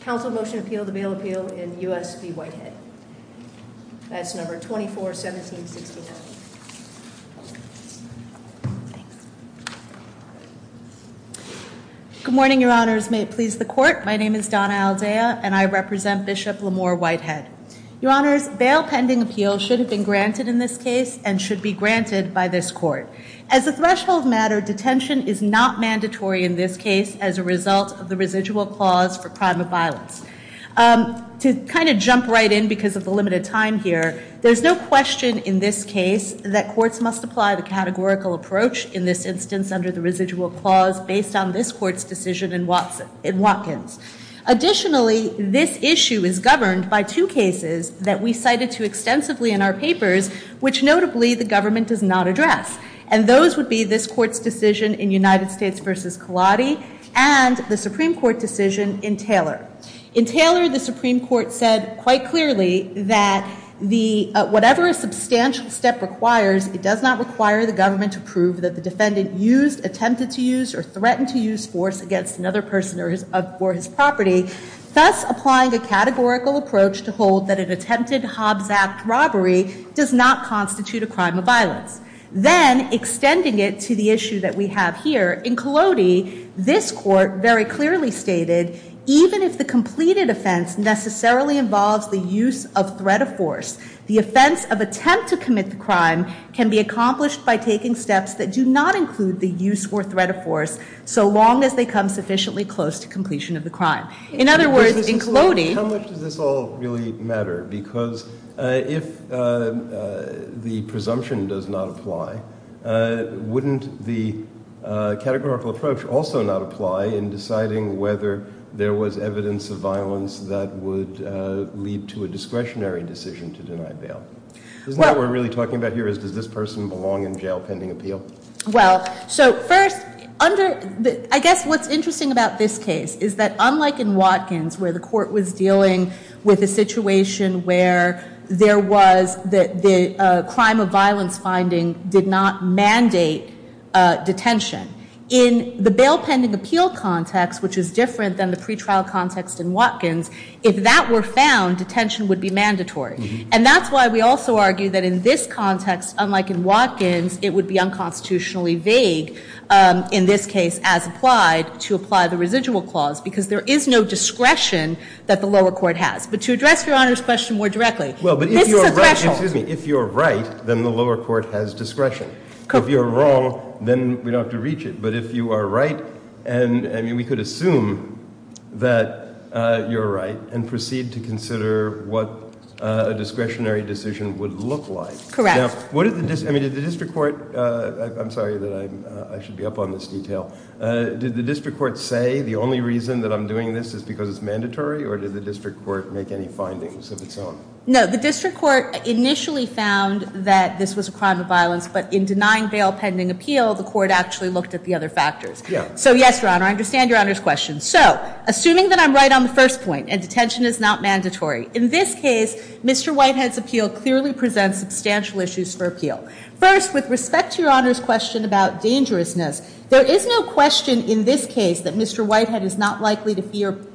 Council motion to appeal the bail appeal in U.S. v. Whitehead. That's number 241769. Thanks. Good morning, your honors. May it please the court. My name is Donna Aldea and I represent Bishop Lamore Whitehead. Your honors, bail pending appeal should have been granted in this case and should be granted by this court. As a threshold matter, detention is not mandatory in this case as a result of the residual clause for crime of violence. To kind of jump right in because of the limited time here, there's no question in this case that courts must apply the categorical approach in this instance under the residual clause based on this court's decision in Watkins. Additionally, this issue is governed by two cases that we cited too extensively in our papers, which notably the government does not address. And those would be this court's decision in United States v. Kaladi and the Supreme Court decision in Taylor. In Taylor, the Supreme Court said quite clearly that whatever a substantial step requires, it does not require the government to prove that the defendant used, attempted to use, or threatened to use force against another person or his property, thus applying a categorical approach to hold that an attempted Hobbs Act robbery does not constitute a crime of violence. Then extending it to the issue that we have here, in Kaladi, this court very clearly stated even if the completed offense necessarily involves the use of threat of force, the offense of attempt to commit the crime can be accomplished by taking steps that do not include the use or threat of force so long as they come sufficiently close to completion of the crime. In other words, in Kaladi- How much does this all really matter? Because if the presumption does not apply, wouldn't the categorical approach also not apply in deciding whether there was evidence of violence that would lead to a discretionary decision to deny bail? Isn't what we're really talking about here is does this person belong in jail pending appeal? Well, so first, I guess what's interesting about this case is that unlike in Watkins where the court was dealing with a situation where there was the crime of violence finding did not mandate detention, in the bail pending appeal context, which is different than the pretrial context in Watkins, if that were found, detention would be mandatory. And that's why we also argue that in this context, unlike in Watkins, it would be unconstitutionally vague in this case as applied to apply the residual clause, because there is no discretion that the lower court has. But to address Your Honor's question more directly, this is a threshold. If you're right, then the lower court has discretion. If you're wrong, then we don't have to reach it. But if you are right, and we could assume that you're right, and proceed to consider what a discretionary decision would look like. Now, what did the district court, I'm sorry that I should be up on this detail, did the district court say the only reason that I'm doing this is because it's mandatory, or did the district court make any findings of its own? No, the district court initially found that this was a crime of violence, but in denying bail pending appeal, the court actually looked at the other factors. So yes, Your Honor, I understand Your Honor's question. So, assuming that I'm right on the first point, and detention is not mandatory, in this case, Mr. Whitehead's appeal clearly presents substantial issues for appeal. First, with respect to Your Honor's question about dangerousness, there is no question in this case that Mr. Whitehead is not likely to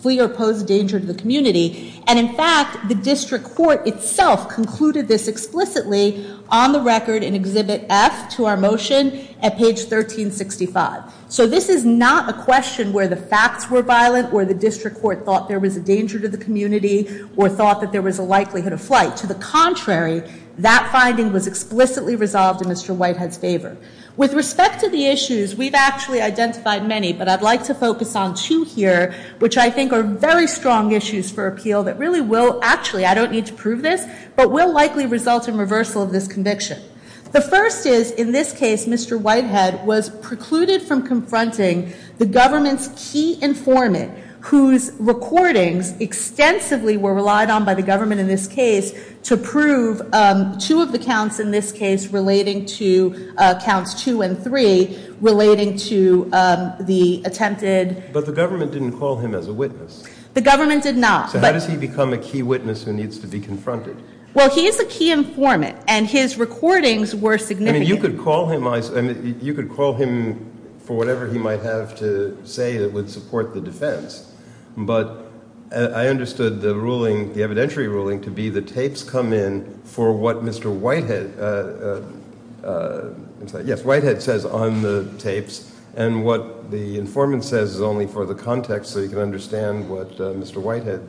flee or pose danger to the community. And in fact, the district court itself concluded this explicitly on the record in Exhibit F to our motion at page 1365. So this is not a question where the facts were violent, where the district court thought there was a danger to the community, or thought that there was a likelihood of flight. To the contrary, that finding was explicitly resolved in Mr. Whitehead's favor. With respect to the issues, we've actually identified many, but I'd like to focus on two here, which I think are very strong issues for appeal that really will, actually, I don't need to prove this, but will likely result in reversal of this conviction. The first is, in this case, Mr. Whitehead was precluded from confronting the government's key informant, whose recordings extensively were relied on by the government in this case to prove two of the counts in this case relating to, counts two and three, relating to the attempted... But the government didn't call him as a witness. The government did not. So how does he become a key witness who needs to be confronted? Well, he is a key informant, and his recordings were significant. I mean, you could call him for whatever he might have to say that would support the defense, but I understood the ruling, the evidentiary ruling, to be the tapes come in for what Mr. Whitehead... Yes, Whitehead says on the tapes, and what the informant says is only for the context so you can understand what Mr. Whitehead's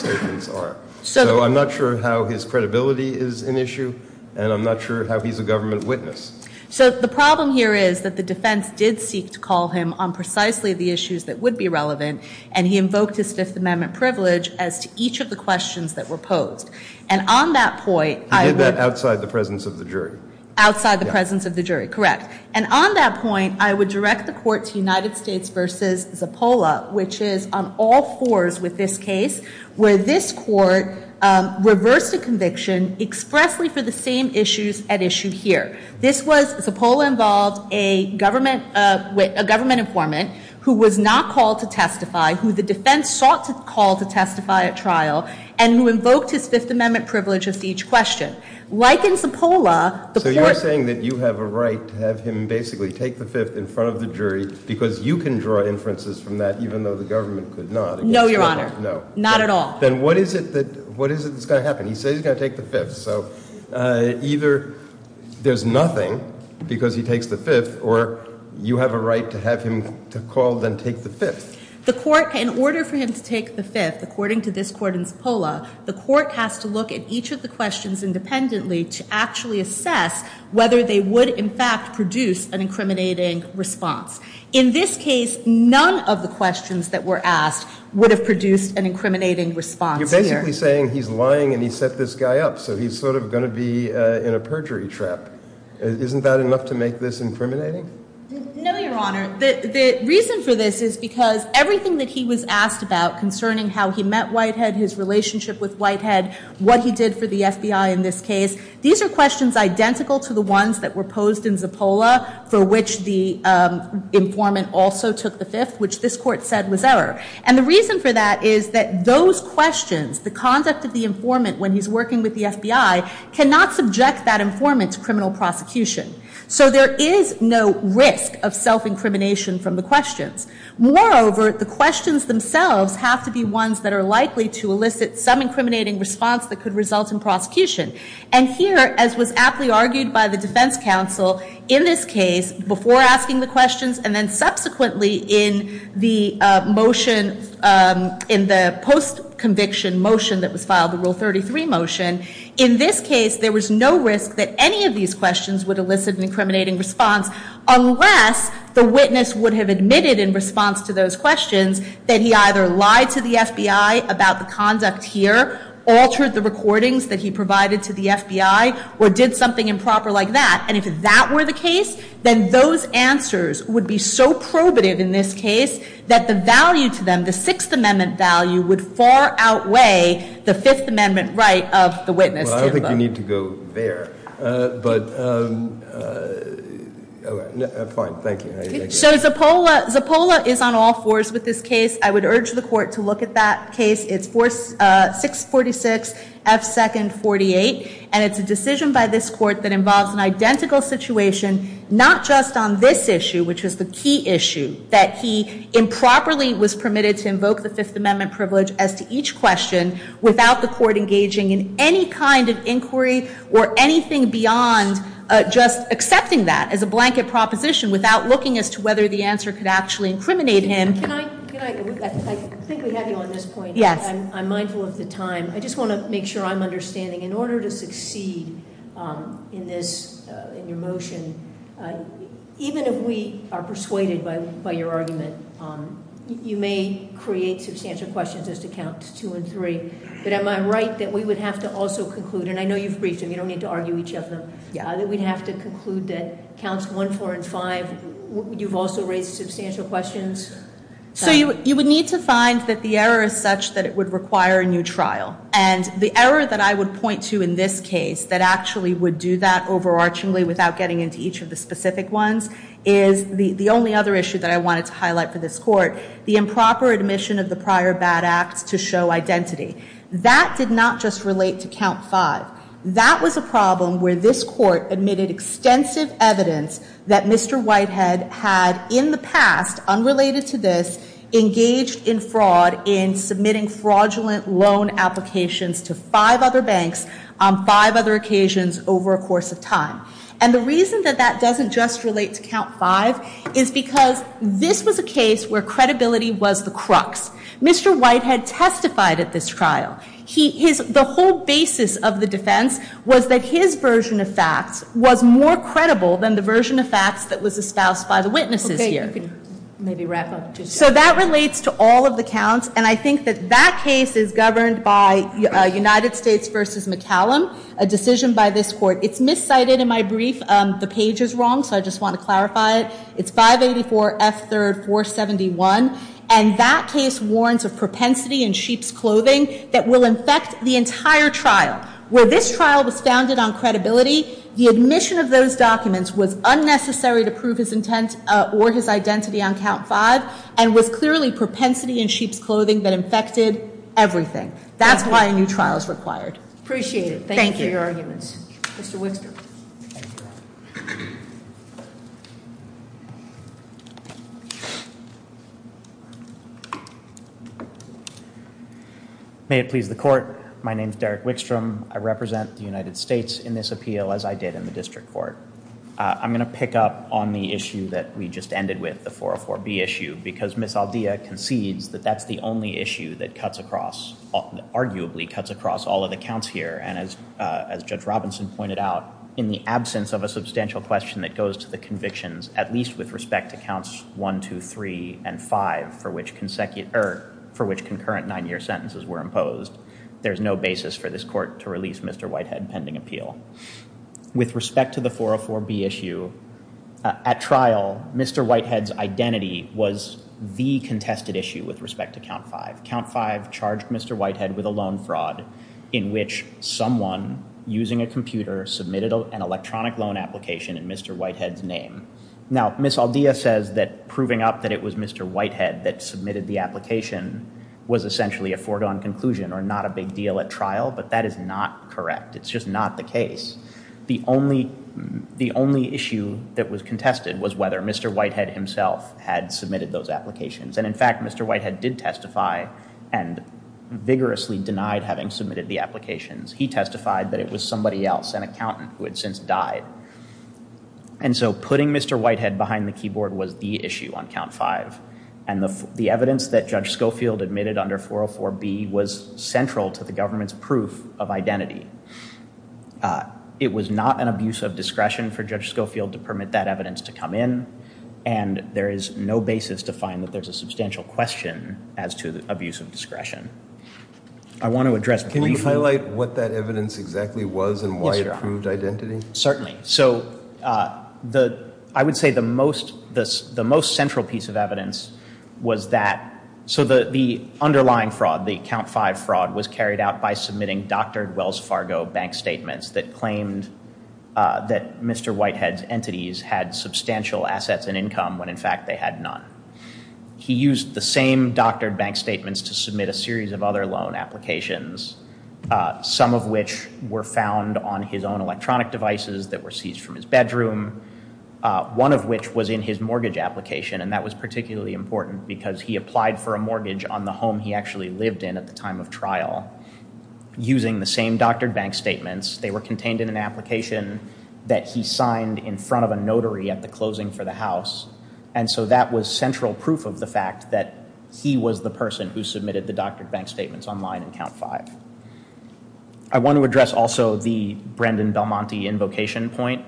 statements are. So I'm not sure how his credibility is an issue, and I'm not sure how he's a government witness. So the problem here is that the defense did seek to call him on precisely the issues that would be relevant, and he invoked his Fifth Amendment privilege as to each of the questions that were posed. And on that point... He did that outside the presence of the jury. Outside the presence of the jury, correct. And on that point, I would direct the court to United States v. Zappola, which is on all fours with this case, where this court reversed a conviction expressly for the same issues at issue here. This was, Zappola involved a government informant who was not called to testify, who the defense sought to call to testify at trial, and who invoked his Fifth Amendment privilege as to each question. Like in Zappola... So you're saying that you have a right to have him basically take the Fifth in front of the jury because you can draw inferences from that even though the government could not. No, Your Honor. No. Not at all. Then what is it that's going to happen? He says he's going to take the Fifth. So either there's nothing because he takes the Fifth, or you have a right to have him to call then take the Fifth. The court, in order for him to take the Fifth, according to this court in Zappola, the court has to look at each of the questions independently to actually assess whether they would in fact produce an incriminating response. In this case, none of the questions that were asked would have produced an incriminating response here. You're basically saying he's lying and he set this guy up, so he's sort of going to be in a perjury trap. Isn't that enough to make this incriminating? No, Your Honor. The reason for this is because everything that he was asked about concerning how he met Whitehead, his relationship with Whitehead, what he did for the FBI in this case, these are questions identical to the ones that were posed in Zappola, for which the informant also took the Fifth, which this court said was error. And the reason for that is that those questions, the conduct of the informant when he's working with the FBI, cannot subject that informant to criminal prosecution. So there is no risk of self-incrimination from the questions. Moreover, the questions themselves have to be ones that are likely to elicit some incriminating response that could result in prosecution. And here, as was aptly argued by the defense counsel in this case before asking the questions and then subsequently in the motion, in the post-conviction motion that was filed, the Rule 33 motion, in this case there was no risk that any of these questions would elicit an incriminating response unless the witness would have admitted in response to those questions that he either lied to the FBI about the conduct here, altered the recordings that he provided to the FBI, or did something improper like that. And if that were the case, then those answers would be so probative in this case that the value to them, the Sixth Amendment value, would far outweigh the Fifth Amendment right of the witness. Well, I don't think you need to go there, but fine, thank you. So Zappola is on all fours with this case. I would urge the court to look at that case. It's 646 F. 2nd 48, and it's a decision by this court that involves an identical situation, not just on this issue, which was the key issue, that he improperly was permitted to invoke the Fifth Amendment privilege as to each question without the court engaging in any kind of inquiry or anything beyond just accepting that as a blanket proposition without looking as to whether the answer could actually incriminate him. Can I, I think we have you on this point. Yes. I'm mindful of the time. I just want to make sure I'm understanding. In order to succeed in this, in your motion, even if we are persuaded by your argument, you may create substantial questions as to Counts 2 and 3, but am I right that we would have to also conclude, and I know you've briefed them, you don't need to argue each of them, that we'd have to conclude that Counts 1, 4, and 5, you've also raised substantial questions? So you would need to find that the error is such that it would require a new trial. And the error that I would point to in this case that actually would do that overarchingly without getting into each of the specific ones is the only other issue that I wanted to highlight for this court, the improper admission of the prior bad acts to show identity. That did not just relate to Count 5. That was a problem where this court admitted extensive evidence that Mr. Whitehead had in the past, unrelated to this, engaged in fraud in submitting fraudulent loan applications to five other banks on five other occasions over a course of time. And the reason that that doesn't just relate to Count 5 is because this was a case where credibility was the crux. Mr. Whitehead testified at this trial. The whole basis of the defense was that his version of facts was more credible than the version of facts that was espoused by the witnesses here. So that relates to all of the counts, and I think that that case is governed by United States v. McCallum, a decision by this court. It's miscited in my brief. The page is wrong, so I just want to clarify it. It's 584 F3 471, and that case warns of propensity in sheep's clothing that will infect the entire trial. Where this trial was founded on credibility, the admission of those documents was unnecessary to prove his intent or his identity on Count 5, and was clearly propensity in sheep's clothing that infected everything. That's why a new trial is required. Appreciate it. Thank you. Thank you for your arguments. Mr. Winster. May it please the court. My name is Derek Wickstrom. I represent the United States in this appeal, as I did in the district court. I'm going to pick up on the issue that we just ended with, the 404 B issue, because Ms. Aldea concedes that that's the only issue that cuts across, arguably cuts across all of the counts here. And as Judge Robinson pointed out, in the absence of a substantial question that goes to the convictions, at least with respect to counts 1, 2, 3, and 5, for which concurrent nine-year sentences were imposed, there's no basis for this court to release Mr. Whitehead pending appeal. With respect to the 404 B issue, at trial, Mr. Whitehead's identity was the contested issue with respect to Count 5. Count 5 charged Mr. Whitehead with a loan fraud in which someone using a computer submitted an electronic loan application in Mr. Whitehead's name. Now, Ms. Aldea says that proving up that it was Mr. Whitehead that submitted the application was essentially a foregone conclusion or not a big deal at trial, but that is not correct. It's just not the case. The only issue that was contested was whether Mr. Whitehead himself had submitted those applications. And in fact, Mr. Whitehead did testify and vigorously denied having submitted the applications. He testified that it was somebody else, an accountant, who had since died. And so putting Mr. Whitehead behind the keyboard was the issue on Count 5. And the evidence that Judge Schofield admitted under 404 B was central to the government's proof of identity. It was not an abuse of discretion for Judge Schofield to permit that evidence to come in, and there is no basis to find that there's a substantial question as to abuse of discretion. I want to address... Can you highlight what that evidence exactly was and why it proved identity? Certainly. So, I would say the most central piece of evidence was that... So the underlying fraud, the Count 5 fraud, was carried out by submitting doctored Wells Fargo bank statements that claimed that Mr. Whitehead's entities had substantial assets and income when in fact they had none. He used the same doctored bank statements to submit a series of other loan applications, some of which were found on his own electronic devices that were seized from his bedroom, one of which was in his mortgage application, and that was particularly important because he applied for a mortgage on the home he actually lived in at the time of trial. Using the same doctored bank statements, they were contained in an application that he signed in front of a notary at the closing for the house. And so that was central proof of the fact that he was the person who submitted the doctored bank statements online in Count 5. I want to address also the Brendan Belmonte invocation point.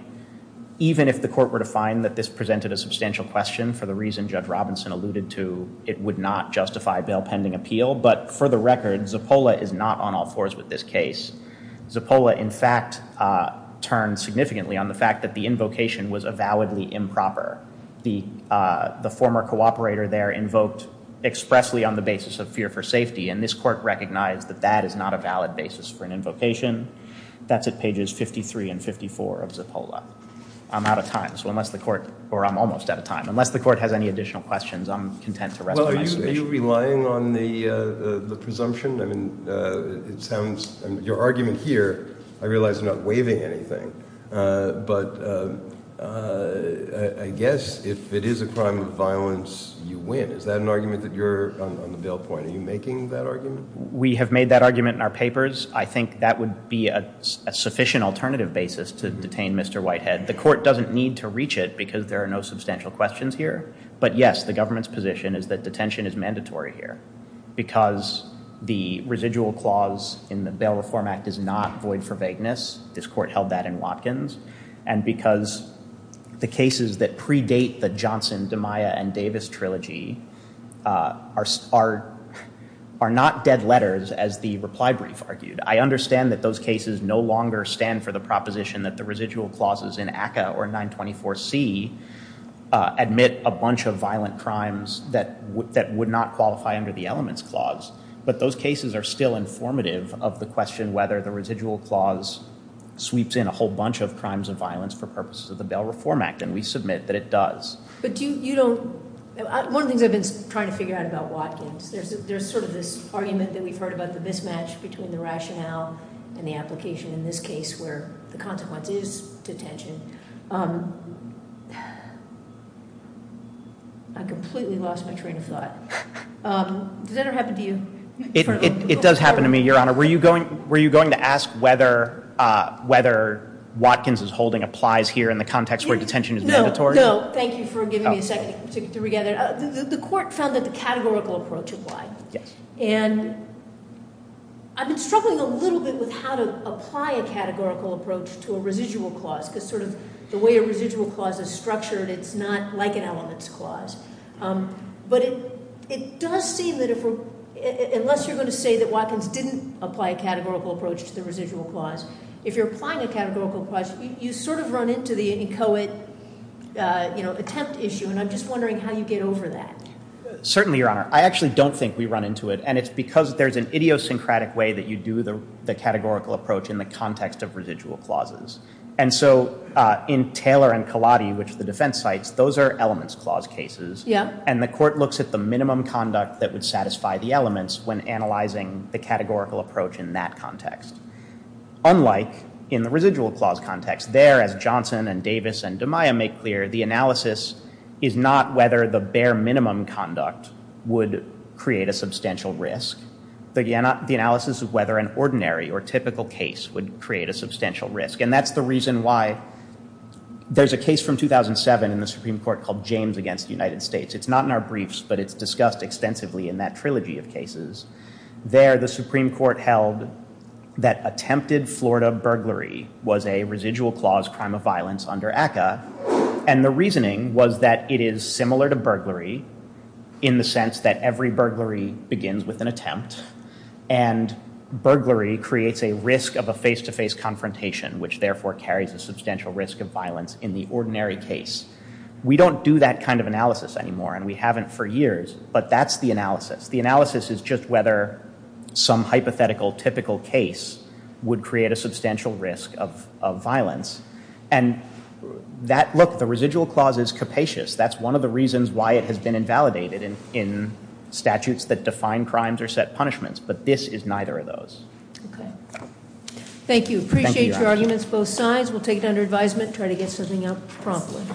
Even if the court were to find that this presented a substantial question for the reason Judge Robinson alluded to, it would not justify bail pending appeal. But for the record, Zappola is not on all fours with this case. Zappola in fact turned significantly on the fact that the invocation was avowedly improper. The former cooperator there invoked expressly on the basis of fear for safety, and this court recognized that that is not a valid basis for an invocation. That's at pages 53 and 54 of Zappola. I'm out of time. So unless the court, or I'm almost out of time, unless the court has any additional questions, I'm content to resume my submission. Are you relying on the presumption? I mean, it sounds, your argument here, I realize I'm not waiving anything, but I guess if it is a crime of violence, you win. Is that an argument that you're on the bail point? Are you making that argument? We have made that argument in our papers. I think that would be a sufficient alternative basis to detain Mr. Whitehead. The court doesn't need to reach it because there are no substantial questions here. But yes, the government's position is that detention is mandatory here because the residual clause in the Bail Reform Act is not void for vagueness. This court held that in Watkins. And because the cases that predate the Johnson, DeMaia, and Davis trilogy are not dead letters, as the reply brief argued. I understand that those cases no longer stand for the proposition that the residual clauses in ACCA or 924C admit a bunch of violent crimes that would not qualify under the elements clause. But those cases are still informative of the question whether the residual clause sweeps in a whole bunch of crimes of violence for purposes of the Bail Reform Act. And we submit that it does. But you don't, one of the things I've been trying to figure out about Watkins, there's sort of this argument that we've heard about the mismatch between the rationale and the application in this case where the consequence is detention. I completely lost my train of thought. Does that ever happen to you? It does happen to me, Your Honor. Were you going to ask whether Watkins' holding applies here in the context where detention is mandatory? No, thank you for giving me a second to put it together. The court found that the categorical approach applied. And I've been struggling a little bit with how to apply a categorical approach to a residual clause, because sort of the way a residual clause is structured, it's not like an elements clause. But it does seem that if, unless you're going to say that Watkins didn't apply a categorical approach to the residual clause, if you're applying a categorical approach, you sort of run into the inchoate, you know, attempt issue. And I'm just wondering how you get over that. Certainly, Your Honor, I actually don't think we run into it. And it's because there's an idiosyncratic way that you do the categorical approach in the context of residual clauses. And so in Taylor and Kalotti, which the defense cites, those are elements clause cases. And the court looks at the minimum conduct that would satisfy the elements when analyzing the categorical approach in that context. Unlike in the residual clause context, there, as Johnson and Davis and DeMaia make clear, the analysis is not whether the bare minimum conduct would create a substantial risk. The analysis of whether an ordinary or typical case would create a substantial risk. And that's the reason why there's a case from 2007 in the Supreme Court called James against the United States. It's not in our briefs, but it's discussed extensively in that trilogy of cases. There, the Supreme Court held that attempted Florida burglary was a residual clause crime of violence under ACCA. And the reasoning was that it is similar to burglary in the sense that every burglary begins with an attempt. And burglary creates a risk of a face-to-face confrontation, which therefore carries a substantial risk of violence in the ordinary case. We don't do that kind of analysis anymore, and we haven't for years. But that's the analysis. The analysis is just whether some hypothetical typical case would create a substantial risk of violence. And look, the residual clause is capacious. That's one of the reasons why it has been invalidated in statutes that define crimes or set punishments. But this is neither of those. Thank you. Appreciate your arguments both sides. We'll take it under advisement, try to get something out promptly.